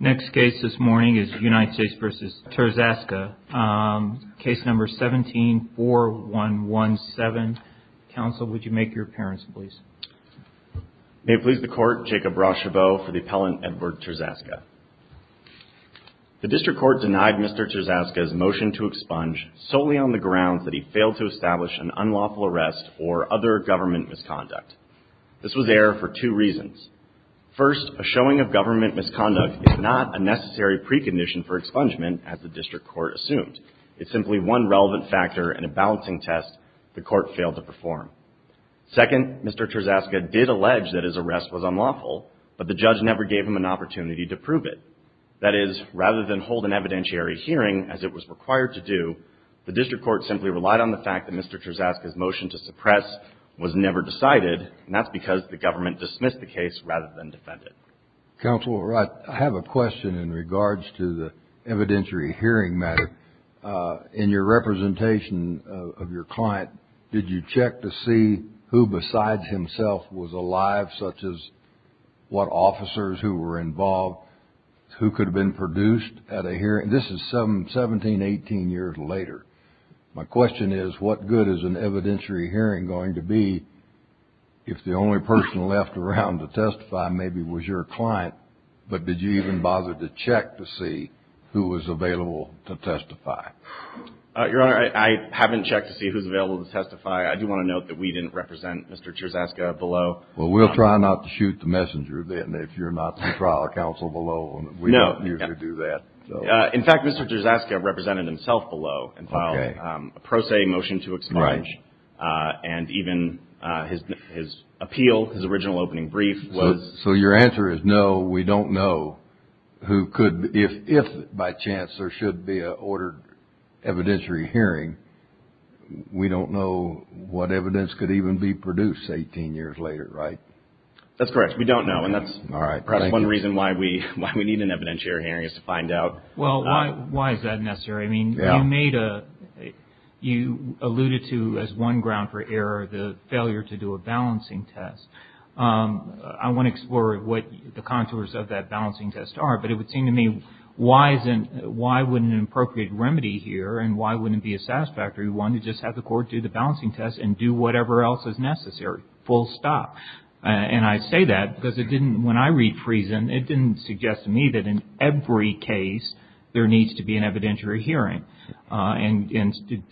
Next case this morning is United States v. Trzaska, case number 17-4117. Counsel, would you make your appearance, please? May it please the Court, Jacob Rocheveau for the appellant Edward Trzaska. The District Court denied Mr. Trzaska's motion to expunge solely on the grounds that he failed to establish an unlawful arrest or other government misconduct. This was error for two reasons. First, a showing of government misconduct is not a necessary precondition for expungement, as the District Court assumed. It's simply one relevant factor in a balancing test the Court failed to perform. Second, Mr. Trzaska did allege that his arrest was unlawful, but the judge never gave him an opportunity to prove it. That is, rather than hold an evidentiary hearing, as it was required to do, the District Court simply relied on the fact that Mr. Trzaska's motion to suppress was never decided, and that's because the government dismissed the case rather than defended it. Counsel, I have a question in regards to the evidentiary hearing matter. In your representation of your client, did you check to see who besides himself was alive, such as what officers who were involved, who could have been produced at a hearing? This is 17, 18 years later. My question is, what good is an evidentiary hearing going to be if the only person left around to testify maybe was your client, but did you even bother to check to see who was available to testify? Your Honor, I haven't checked to see who's available to testify. I do want to note that we didn't represent Mr. Trzaska below. Well, we'll try not to shoot the messenger, then, if you're not the trial counsel below. We don't usually do that. In fact, Mr. Trzaska represented himself below and filed a pro se motion to expunge, and even his appeal, his original opening brief was— So your answer is, no, we don't know who could—if, by chance, there should be an ordered evidentiary hearing, we don't know what evidence could even be produced 18 years later, right? That's correct. We don't know. And that's perhaps one reason why we need an evidentiary hearing is to find out. Well, why is that necessary? I mean, you made a—you alluded to, as one ground for error, the failure to do a balancing test. I want to explore what the contours of that balancing test are, but it would seem to me, why wouldn't an appropriate remedy here, and why wouldn't it be a satisfactory one to just have the court do the balancing test and do whatever else is necessary, full stop? And I say that because it didn't—when I read Friesen, it didn't suggest to me that in every case there needs to be an evidentiary hearing. And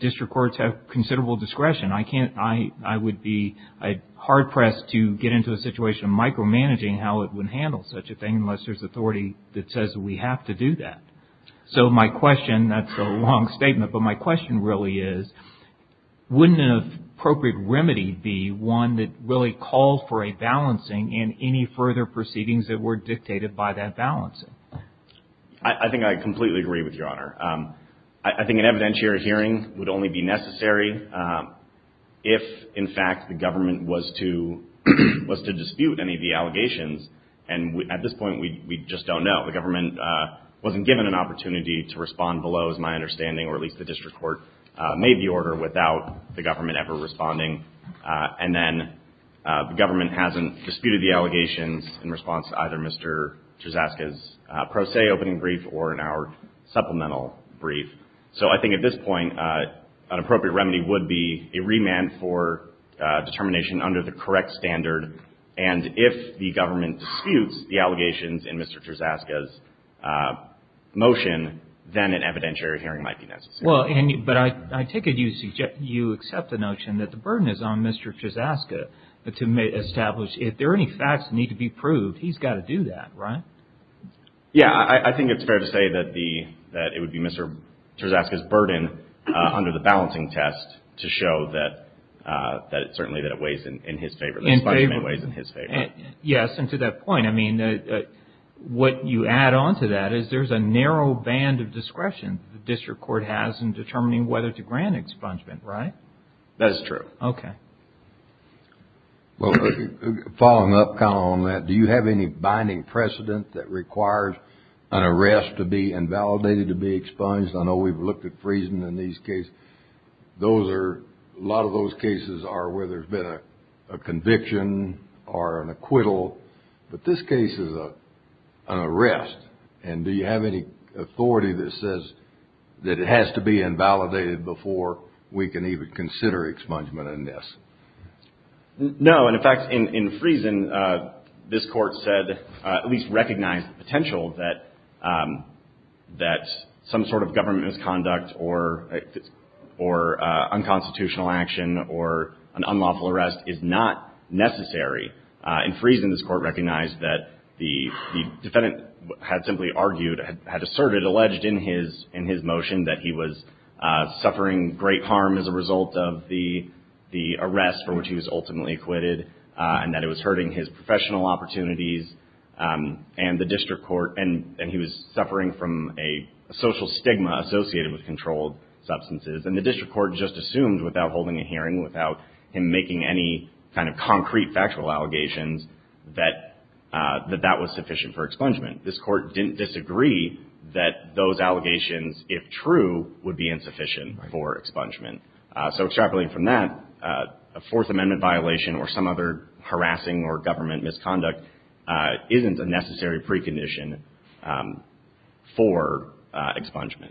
district courts have considerable discretion. I can't—I would be hard-pressed to get into a situation of micromanaging how it would handle such a thing unless there's authority that says we have to do that. So my question—that's a long statement, but my question really is, wouldn't an appropriate remedy be one that really calls for a balancing and any further proceedings that were dictated by that balancing? I think I completely agree with Your Honor. I think an evidentiary hearing would only be necessary if, in fact, the government was to dispute any of the allegations. And at this point, we just don't know. The government wasn't given an opportunity to respond below, is my understanding, or at least the district court made the order without the government ever responding. And then the government hasn't disputed the allegations in response to either Mr. Terzaska's pro se opening brief or in our supplemental brief. So I think at this point, an appropriate remedy would be a remand for determination under the correct standard. And if the government disputes the allegations in Mr. Terzaska's motion, then an evidentiary hearing might be necessary. Well, but I take it you accept the notion that the burden is on Mr. Terzaska to establish, if there are any facts that need to be proved, he's got to do that, right? Yeah. I think it's fair to say that it would be Mr. Terzaska's burden under the balancing test to show that it certainly weighs in his favor. This judgment weighs in his favor. Yes. And to that point, I mean, what you add on to that is there's a narrow band of discretion the district court has in determining whether to grant expungement, right? That is true. Okay. Well, following up kind of on that, do you have any binding precedent that requires an arrest to be invalidated to be expunged? I know we've looked at freezing in these cases. A lot of those cases are where there's been a conviction or an acquittal. But this case is an arrest. And do you have any authority that says that it has to be invalidated before we can even consider expungement in this? No. And, in fact, in Friesen, this Court said, at least recognized the potential that some sort of government misconduct or unconstitutional action or an unlawful arrest is not necessary. In Friesen, this Court recognized that the defendant had simply argued, had asserted, alleged in his motion that he was suffering great harm as a result of the arrest for which he was ultimately acquitted and that it was hurting his professional opportunities. And the district court, and he was suffering from a social stigma associated with controlled substances. And the district court just assumed, without holding a hearing, without him making any kind of concrete factual allegations, that that was sufficient for expungement. This Court didn't disagree that those allegations, if true, would be insufficient for expungement. So extrapolating from that, a Fourth Amendment violation or some other harassing or government misconduct isn't a necessary precondition for expungement.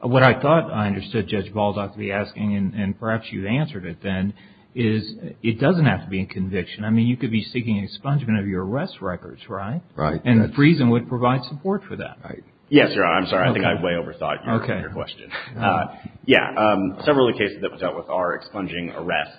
What I thought I understood Judge Balzac to be asking, and perhaps you've answered it then, is it doesn't have to be a conviction. I mean, you could be seeking expungement of your arrest records, right? Right. And Friesen would provide support for that. Yes, Your Honor. I'm sorry. I think I way overthought your question. Yeah. Several of the cases that were dealt with are expunging arrests.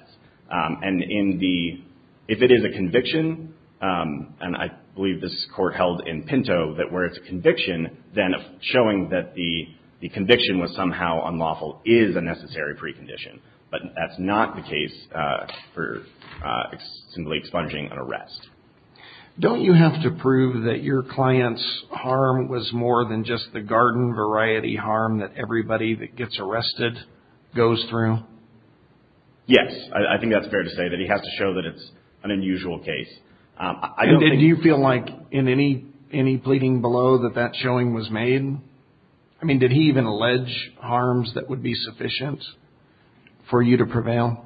And if it is a conviction, and I believe this Court held in Pinto that where it's a conviction, then showing that the conviction was somehow unlawful is a necessary precondition. But that's not the case for simply expunging an arrest. Don't you have to prove that your client's harm was more than just the garden variety harm that everybody that gets arrested goes through? Yes. I think that's fair to say, that he has to show that it's an unusual case. And did you feel like in any pleading below that that showing was made? I mean, did he even allege harms that would be sufficient for you to prevail?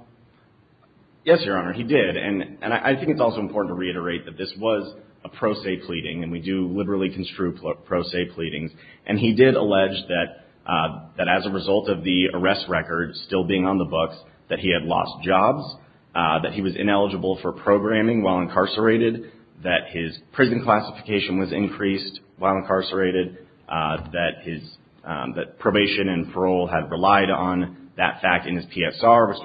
Yes, Your Honor. He did. And I think it's also important to reiterate that this was a pro se pleading, and we do liberally construe pro se pleadings. And he did allege that as a result of the arrest record still being on the books, that he had lost jobs, that he was ineligible for programming while incarcerated, that his prison classification was increased while incarcerated, that probation and parole had relied on that fact in his PSR,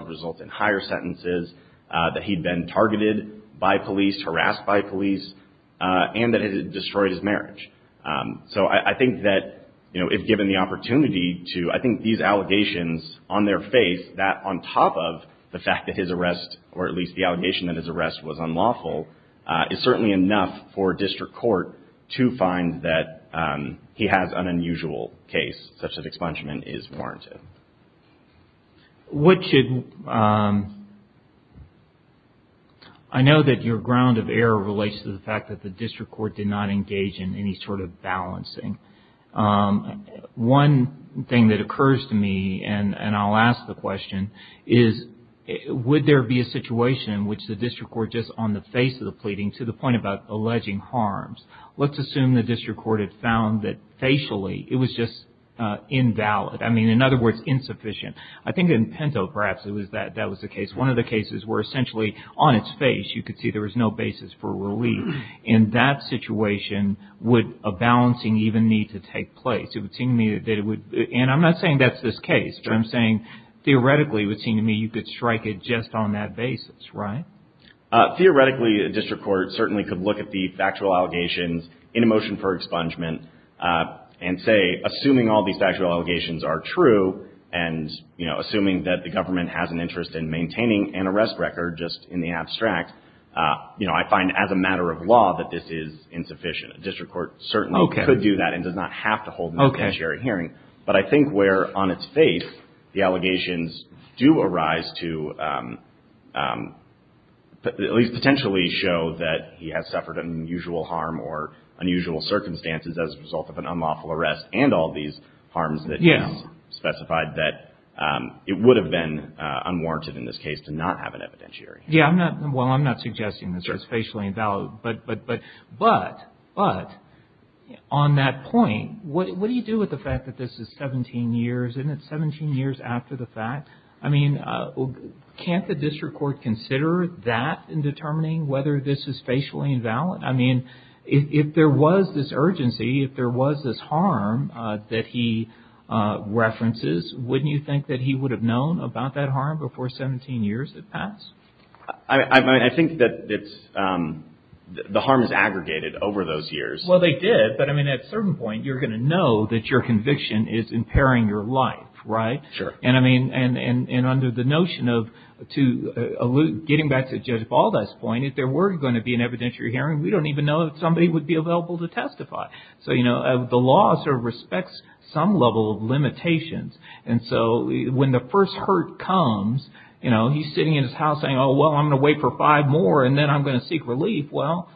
that he'd been targeted by police, harassed by police, and that it had destroyed his marriage. So I think that, you know, if given the opportunity to, I think these allegations on their face, that on top of the fact that his arrest, or at least the allegation that his arrest was unlawful, is certainly enough for district court to find that he has an unusual case, such that expungement is warranted. I know that your ground of error relates to the fact that the district court did not engage in any sort of balancing. One thing that occurs to me, and I'll ask the question, is would there be a situation in which the district court, just on the face of the pleading, to the point about alleging harms, let's assume the district court had found that facially it was just invalid. I mean, in other words, insufficient. I think in Pinto, perhaps, that was the case. One of the cases where essentially on its face you could see there was no basis for relief. In that situation, would a balancing even need to take place? It would seem to me that it would, and I'm not saying that's this case, but I'm saying theoretically it would seem to me you could strike it just on that basis, right? Theoretically, a district court certainly could look at the factual allegations in a motion for expungement and say, assuming all these factual allegations are true, and assuming that the government has an interest in maintaining an arrest record, just in the abstract, I find as a matter of law that this is insufficient. A district court certainly could do that and does not have to hold a statutory hearing. But I think where on its face the allegations do arise to at least potentially show that he has suffered an unusual harm or unusual circumstances as a result of an unlawful arrest and all these harms that he has specified, that it would have been unwarranted in this case to not have an evidentiary hearing. Well, I'm not suggesting this was facially invalid, but on that point, what do you do with the fact that this is 17 years, and it's 17 years after the fact? I mean, can't the district court consider that in determining whether this is facially invalid? I mean, if there was this urgency, if there was this harm that he references, wouldn't you think that he would have known about that harm before 17 years had passed? I think that the harm is aggregated over those years. Well, they did. But I mean, at a certain point, you're going to know that your conviction is impairing your life, right? Sure. And I mean, and under the notion of getting back to Judge Baldass's point, if there were going to be an evidentiary hearing, we don't even know that somebody would be available to testify. So, you know, the law sort of respects some level of limitations. And so when the first hurt comes, you know, he's sitting in his house saying, oh, well, I'm going to wait for five more, and then I'm going to seek relief. Well,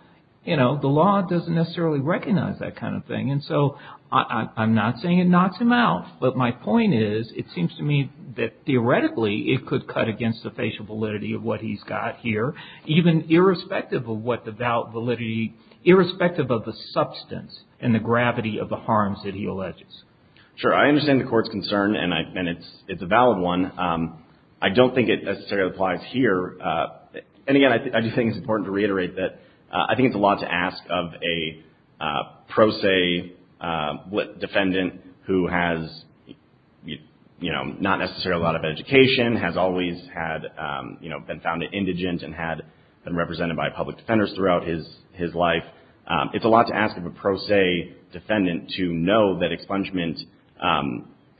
you know, the law doesn't necessarily recognize that kind of thing. And so I'm not saying it knocks him out. But my point is, it seems to me that, theoretically, it could cut against the facial validity of what he's got here, even irrespective of what the valid validity, irrespective of the substance and the gravity of the harms that he alleges. Sure. I understand the Court's concern, and it's a valid one. I don't think it necessarily applies here. And, again, I do think it's important to reiterate that I think it's a lot to ask of a pro se defendant who has, you know, not necessarily a lot of education, has always had, you know, been found indigent and had been represented by public defenders throughout his life. It's a lot to ask of a pro se defendant to know that expungement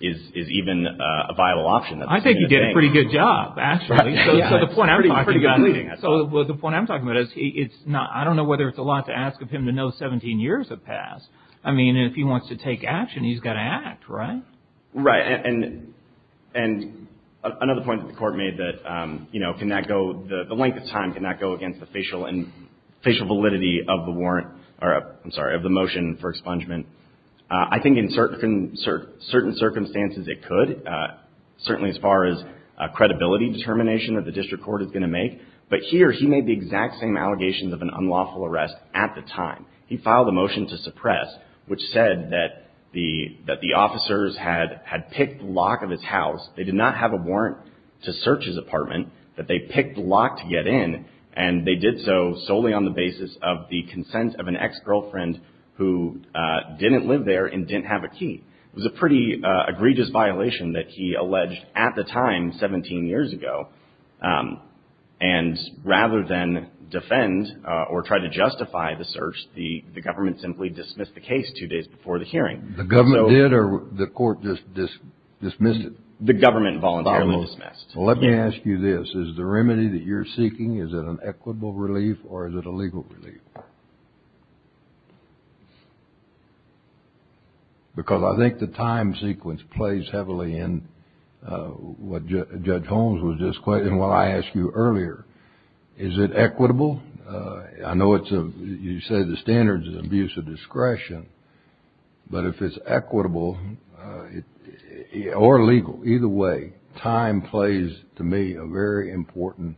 is even a viable option. I think you did a pretty good job, actually. So the point I'm talking about is, I don't know whether it's a lot to ask of him to know 17 years have passed. I mean, if he wants to take action, he's got to act, right? Right. And another point that the Court made that, you know, can that go, the length of time, can that go against the facial validity of the warrant, or I'm sorry, of the motion for expungement. I think in certain circumstances it could, certainly as far as credibility determination that the district court is going to make. But here he made the exact same allegations of an unlawful arrest at the time. He filed a motion to suppress, which said that the officers had picked the lock of his house. They did not have a warrant to search his apartment, but they picked the lock to get in, and they did so solely on the basis of the consent of an ex-girlfriend who didn't live there and didn't have a key. It was a pretty egregious violation that he alleged at the time, 17 years ago. And rather than defend or try to justify the search, the government simply dismissed the case two days before the hearing. The government did, or the court just dismissed it? The government voluntarily dismissed. Well, let me ask you this. Is the remedy that you're seeking, is it an equitable relief, or is it a legal relief? Because I think the time sequence plays heavily in what Judge Holmes was just questioning, and what I asked you earlier. Is it equitable? I know you say the standard is abuse of discretion, but if it's equitable or legal, either way, time plays, to me, a very important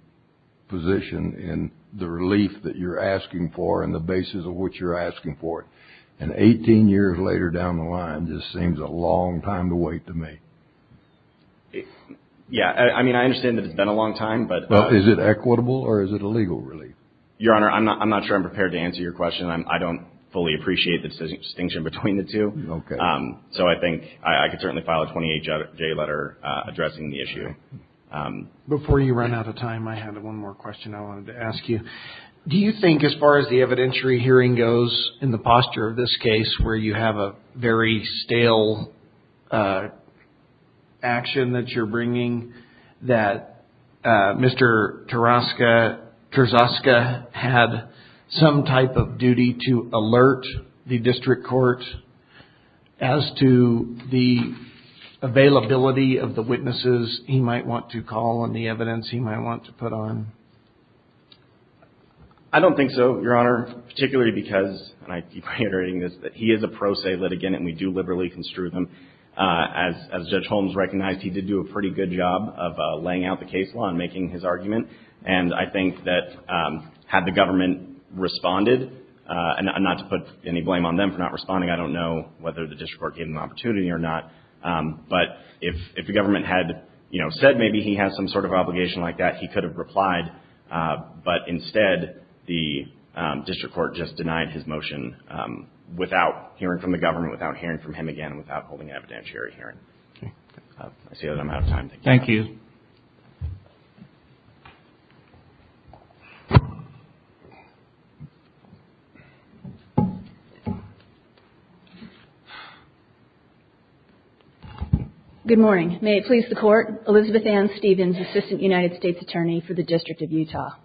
position in the relief that you're asking for. And the basis of what you're asking for. And 18 years later down the line just seems a long time to wait to me. Yeah. I mean, I understand that it's been a long time. But is it equitable, or is it a legal relief? Your Honor, I'm not sure I'm prepared to answer your question. I don't fully appreciate the distinction between the two. Okay. So I think I could certainly file a 28-J letter addressing the issue. Before you run out of time, I have one more question I wanted to ask you. Do you think, as far as the evidentiary hearing goes in the posture of this case, where you have a very stale action that you're bringing, that Mr. Terzaska had some type of duty to alert the district court as to the availability of the witnesses he might want to call and the evidence he might want to put on? I don't think so, Your Honor, particularly because, and I keep reiterating this, that he is a pro se litigant and we do liberally construe them. As Judge Holmes recognized, he did do a pretty good job of laying out the case law and making his argument. And I think that had the government responded, and not to put any blame on them for not responding, I don't know whether the district court gave them the opportunity or not, but if the government had said maybe he has some sort of obligation like that, he could have replied, but instead the district court just denied his motion without hearing from the government, without hearing from him again, without holding an evidentiary hearing. I see that I'm out of time. Thank you. Thank you. Good morning. May it please the Court, Elizabeth Ann Stevens, Assistant United States Attorney for the District of Utah.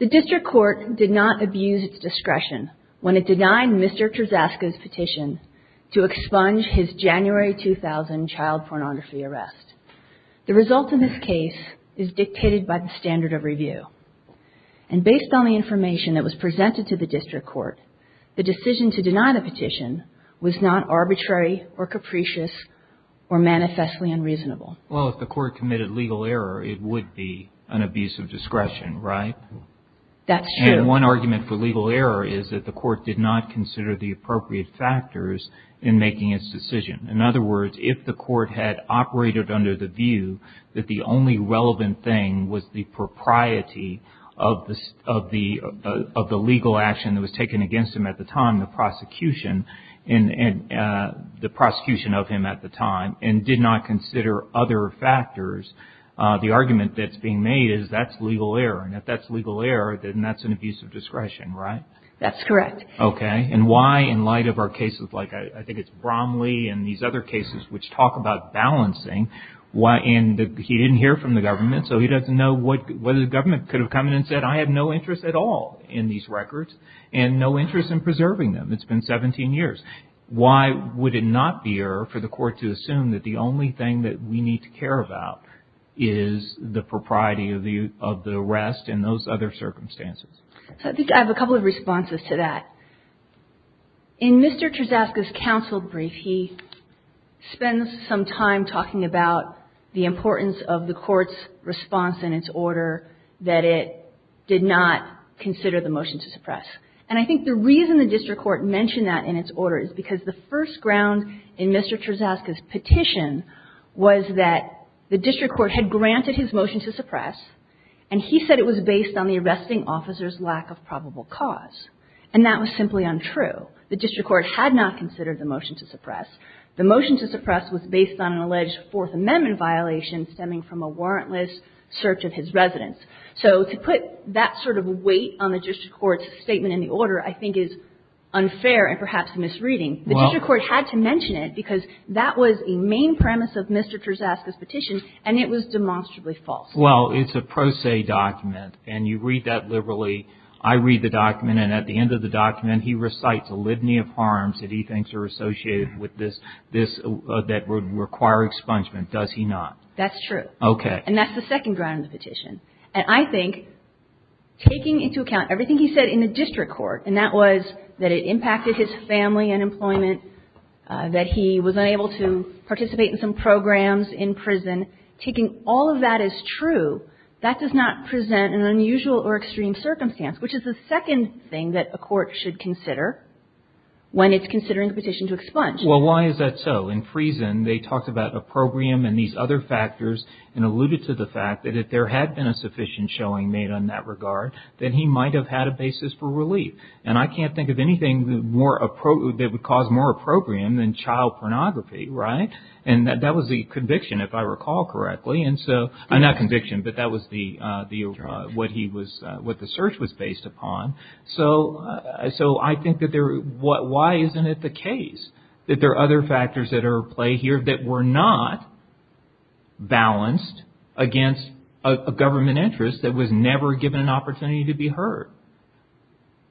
The district court did not abuse its discretion when it denied Mr. Terzaska's petition to expunge his January 2000 child pornography arrest. The result of this case is dictated by the standard of review. And based on the information that was presented to the district court, the decision to deny the petition was not arbitrary or capricious or manifestly unreasonable. Well, if the court committed legal error, it would be an abuse of discretion, right? That's true. And one argument for legal error is that the court did not consider the appropriate factors in making its decision. In other words, if the court had operated under the view that the only relevant thing was the propriety of the legal action that was taken against him at the time, the prosecution of him at the time, and did not consider other factors, the argument that's being made is that's legal error. And if that's legal error, then that's an abuse of discretion, right? That's correct. Okay. And why, in light of our cases, like I think it's Bromley and these other cases which talk about balancing, and he didn't hear from the government, so he doesn't know whether the government could have come in and said, I have no interest at all in these records and no interest in preserving them. It's been 17 years. Why would it not be error for the court to assume that the only thing that we need to care about is the propriety of the arrest and those other circumstances? So I think I have a couple of responses to that. In Mr. Terzaska's counsel brief, he spends some time talking about the importance of the court's response in its order that it did not consider the motion to suppress. And I think the reason the district court mentioned that in its order is because the first ground in Mr. Terzaska's petition was that the district court had granted his motion to suppress, and he said it was based on the arresting officer's lack of probable cause. And that was simply untrue. The district court had not considered the motion to suppress. The motion to suppress was based on an alleged Fourth Amendment violation stemming from a warrantless search of his residence. So to put that sort of weight on the district court's statement in the order, I think, is unfair and perhaps a misreading. The district court had to mention it because that was a main premise of Mr. Terzaska's Well, it's a pro se document, and you read that liberally. I read the document, and at the end of the document, he recites a litany of harms that he thinks are associated with this that would require expungement, does he not? That's true. Okay. And that's the second ground in the petition. And I think taking into account everything he said in the district court, and that was that it impacted his family and employment, that he was unable to participate in some programs in prison. Taking all of that as true, that does not present an unusual or extreme circumstance, which is the second thing that a court should consider when it's considering the petition to expunge. Well, why is that so? In prison, they talked about opprobrium and these other factors and alluded to the fact that if there had been a sufficient showing made in that regard, then he might have had a basis for relief. And I can't think of anything that would cause more opprobrium than child pornography, right? And that was the conviction, if I recall correctly. And so, not conviction, but that was the, what he was, what the search was based upon. So, I think that there, why isn't it the case that there are other factors at play here that were not balanced against a government interest that was never given an opportunity to be heard?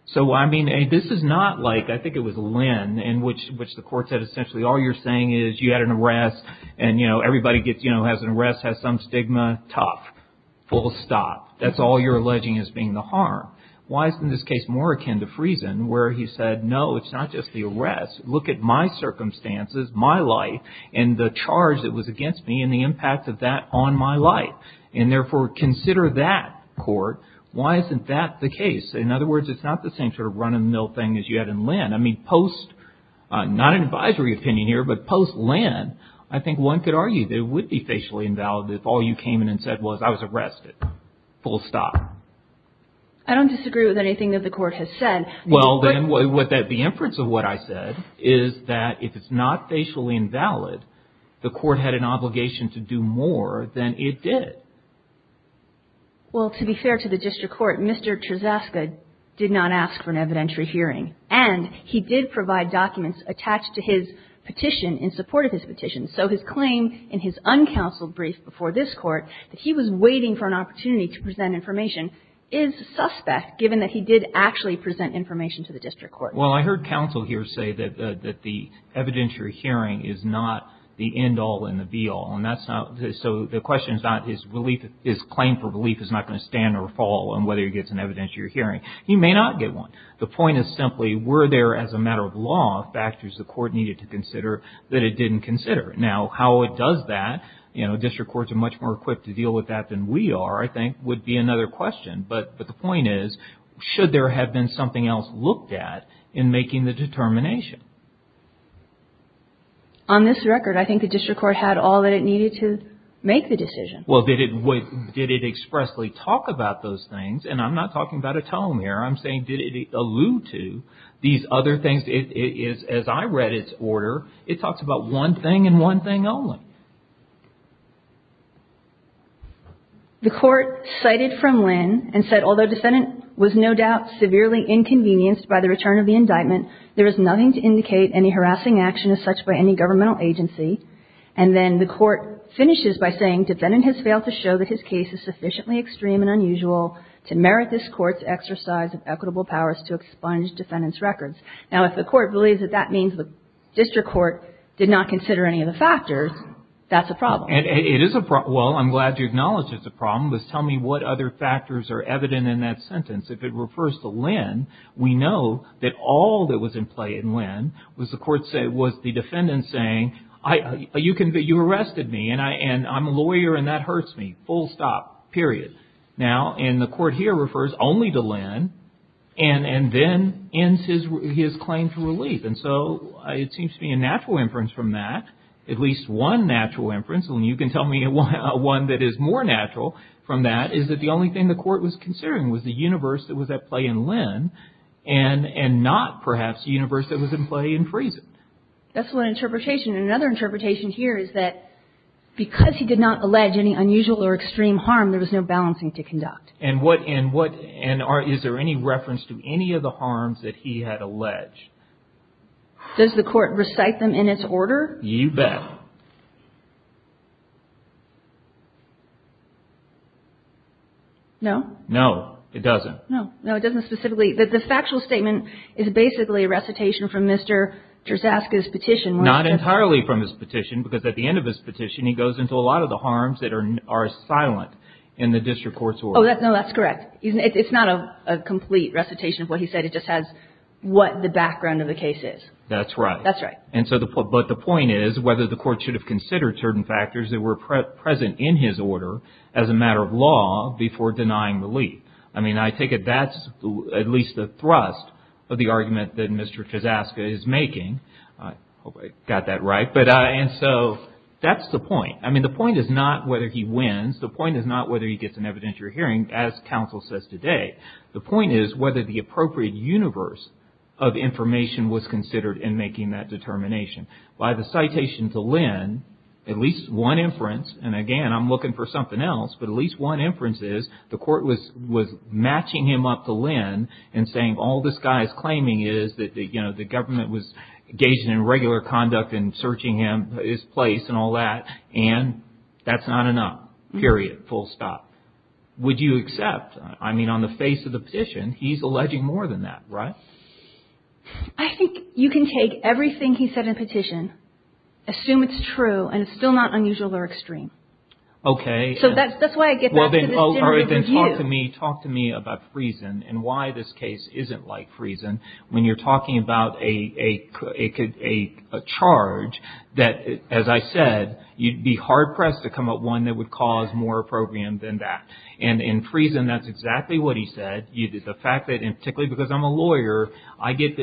So, I mean, this is not like, I think it was Lynn, in which the court said essentially all you're saying is you had an arrest and, you know, everybody gets, you know, has an arrest, has some stigma. Tough. Full stop. That's all you're alleging as being the harm. Why isn't this case more akin to Friesen, where he said, no, it's not just the arrest. Look at my circumstances, my life, and the charge that was against me and the impact of that on my life. And therefore, consider that court. Why isn't that the case? In other words, it's not the same sort of run-of-the-mill thing as you had in Lynn. I mean, post, not an advisory opinion here, but post-Lynn, I think one could argue that it would be facially invalid if all you came in and said was, I was arrested. Full stop. I don't disagree with anything that the court has said. Well, then, the inference of what I said is that if it's not facially invalid, the court had an obligation to do more than it did. Well, to be fair to the district court, Mr. Trezaska did not ask for an evidentiary hearing. And he did provide documents attached to his petition in support of his petition. So his claim in his uncounseled brief before this Court that he was waiting for an opportunity to present information is suspect, given that he did actually present information to the district court. Well, I heard counsel here say that the evidentiary hearing is not the end-all and the be-all. And that's not the – so the question is not his belief – his claim for belief is not going to stand or fall on whether he gets an evidentiary hearing. He may not get one. The point is simply, were there, as a matter of law, factors the court needed to consider that it didn't consider? Now, how it does that – you know, district courts are much more equipped to deal with that than we are, I think, would be another question. But the point is, should there have been something else looked at in making the determination? On this record, I think the district court had all that it needed to make the decision. Well, did it expressly talk about those things? And I'm not talking about a telomere. I'm saying, did it allude to these other things? As I read its order, it talks about one thing and one thing only. The court cited from Lynn and said, Although defendant was no doubt severely inconvenienced by the return of the indictment, there is nothing to indicate any harassing action as such by any governmental agency. And then the court finishes by saying, Defendant has failed to show that his case is sufficiently extreme and unusual to merit this court's exercise of equitable powers to expunge defendant's records. Now, if the court believes that that means the district court did not consider any of the factors, that's a problem. It is a problem. Well, I'm glad you acknowledge it's a problem. Just tell me what other factors are evident in that sentence. If it refers to Lynn, we know that all that was in play in Lynn was the defendant saying, You arrested me and I'm a lawyer and that hurts me. Full stop. Period. Now, and the court here refers only to Lynn and then ends his claim to relief. And so it seems to be a natural inference from that, at least one natural inference, and you can tell me one that is more natural from that, is that the only thing the court was considering was the universe that was at play in Lynn and not perhaps the universe that was in play in Friesen. That's one interpretation. And another interpretation here is that because he did not allege any unusual or extreme harm, there was no balancing to conduct. And what – and what – and is there any reference to any of the harms that he had alleged? Does the court recite them in its order? You bet. No? No, it doesn't. No. No, it doesn't specifically – the factual statement is basically a recitation from Mr. Terzaska's petition. Not entirely from his petition because at the end of his petition, he goes into a lot of the harms that are silent in the district court's order. Oh, no, that's correct. It's not a complete recitation of what he said. It just has what the background of the case is. That's right. That's right. And so – but the point is whether the court should have considered certain factors that were present in his order as a matter of law before denying relief. I mean, I take it that's at least the thrust of the argument that Mr. Terzaska is making. I hope I got that right. But – and so that's the point. I mean, the point is not whether he wins. The point is not whether he gets an evidentiary hearing, as counsel says today. The point is whether the appropriate universe of information was considered in making that determination. By the citation to Lynn, at least one inference – and, again, I'm looking for something else – but at least one inference is the court was matching him up to Lynn and saying, All this guy is claiming is that the government was engaging in regular conduct in searching his place and all that, and that's not enough, period, full stop. Would you accept – I mean, on the face of the petition, he's alleging more than that, right? I think you can take everything he said in the petition, assume it's true, and it's still not unusual or extreme. Okay. So that's why I get back to this general review. But then talk to me about Friesen and why this case isn't like Friesen when you're talking about a charge that, as I said, you'd be hard-pressed to come up with one that would cause more opprobrium than that. And in Friesen, that's exactly what he said, the fact that, and particularly because I'm a lawyer, I get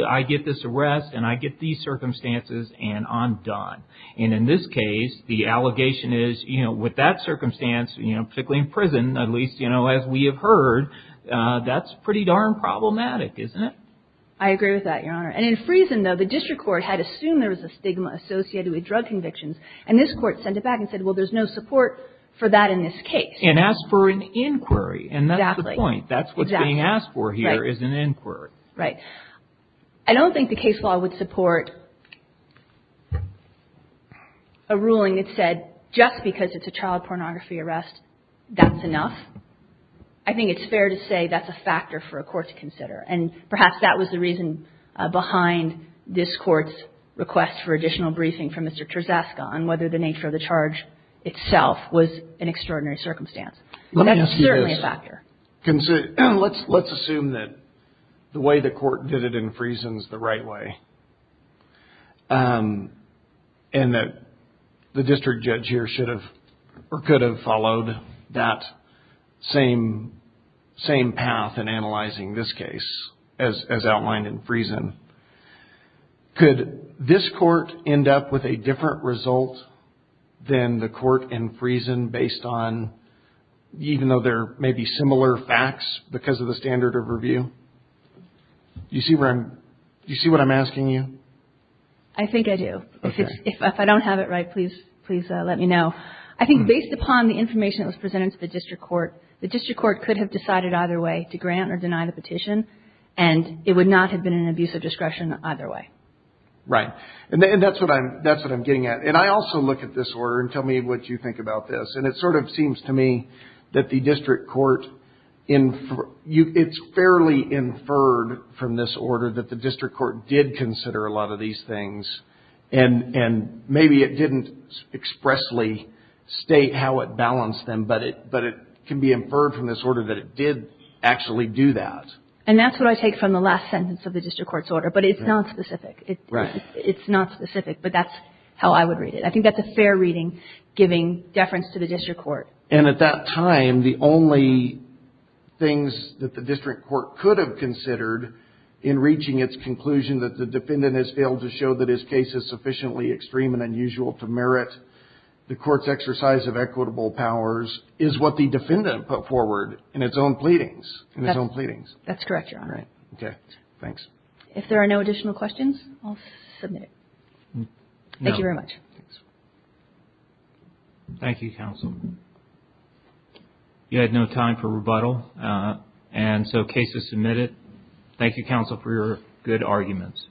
this arrest and I get these circumstances and I'm done. And in this case, the allegation is, you know, with that circumstance, you know, particularly in prison, at least, you know, as we have heard, that's pretty darn problematic, isn't it? I agree with that, Your Honor. And in Friesen, though, the district court had assumed there was a stigma associated with drug convictions, and this court sent it back and said, well, there's no support for that in this case. And asked for an inquiry. Exactly. And that's the point. That's what's being asked for here is an inquiry. Right. I don't think the case law would support a ruling that said just because it's a child pornography arrest, that's enough. I think it's fair to say that's a factor for a court to consider. And perhaps that was the reason behind this court's request for additional briefing from Mr. Terzaska on whether the nature of the charge itself was an extraordinary circumstance. Let me ask you this. And that's certainly a factor. Let's assume that the way the court did it in Friesen is the right way. And that the district judge here should have or could have followed that same path in analyzing this case as outlined in Friesen. Could this court end up with a different result than the court in Friesen based on, even though there may be similar facts because of the standard of review? Do you see what I'm asking you? I think I do. Okay. If I don't have it right, please let me know. I think based upon the information that was presented to the district court, the district court could have decided either way to grant or deny the petition. And it would not have been an abuse of discretion either way. Right. And that's what I'm getting at. And I also look at this order and tell me what you think about this. And it sort of seems to me that the district court, it's fairly inferred from this order that the district court did consider a lot of these things. And maybe it didn't expressly state how it balanced them, but it can be inferred from this order that it did actually do that. And that's what I take from the last sentence of the district court's order, but it's not specific. Right. It's not specific, but that's how I would read it. I think that's a fair reading giving deference to the district court. And at that time, the only things that the district court could have considered in reaching its conclusion that the defendant has failed to show that his case is sufficiently extreme and unusual to merit the court's exercise of equitable powers is what the defendant put forward in its own pleadings. That's correct, Your Honor. Right. Okay. Thanks. If there are no additional questions, I'll submit it. Thank you very much. Thanks. Thank you, counsel. You had no time for rebuttal, and so case is submitted. Thank you, counsel, for your good arguments.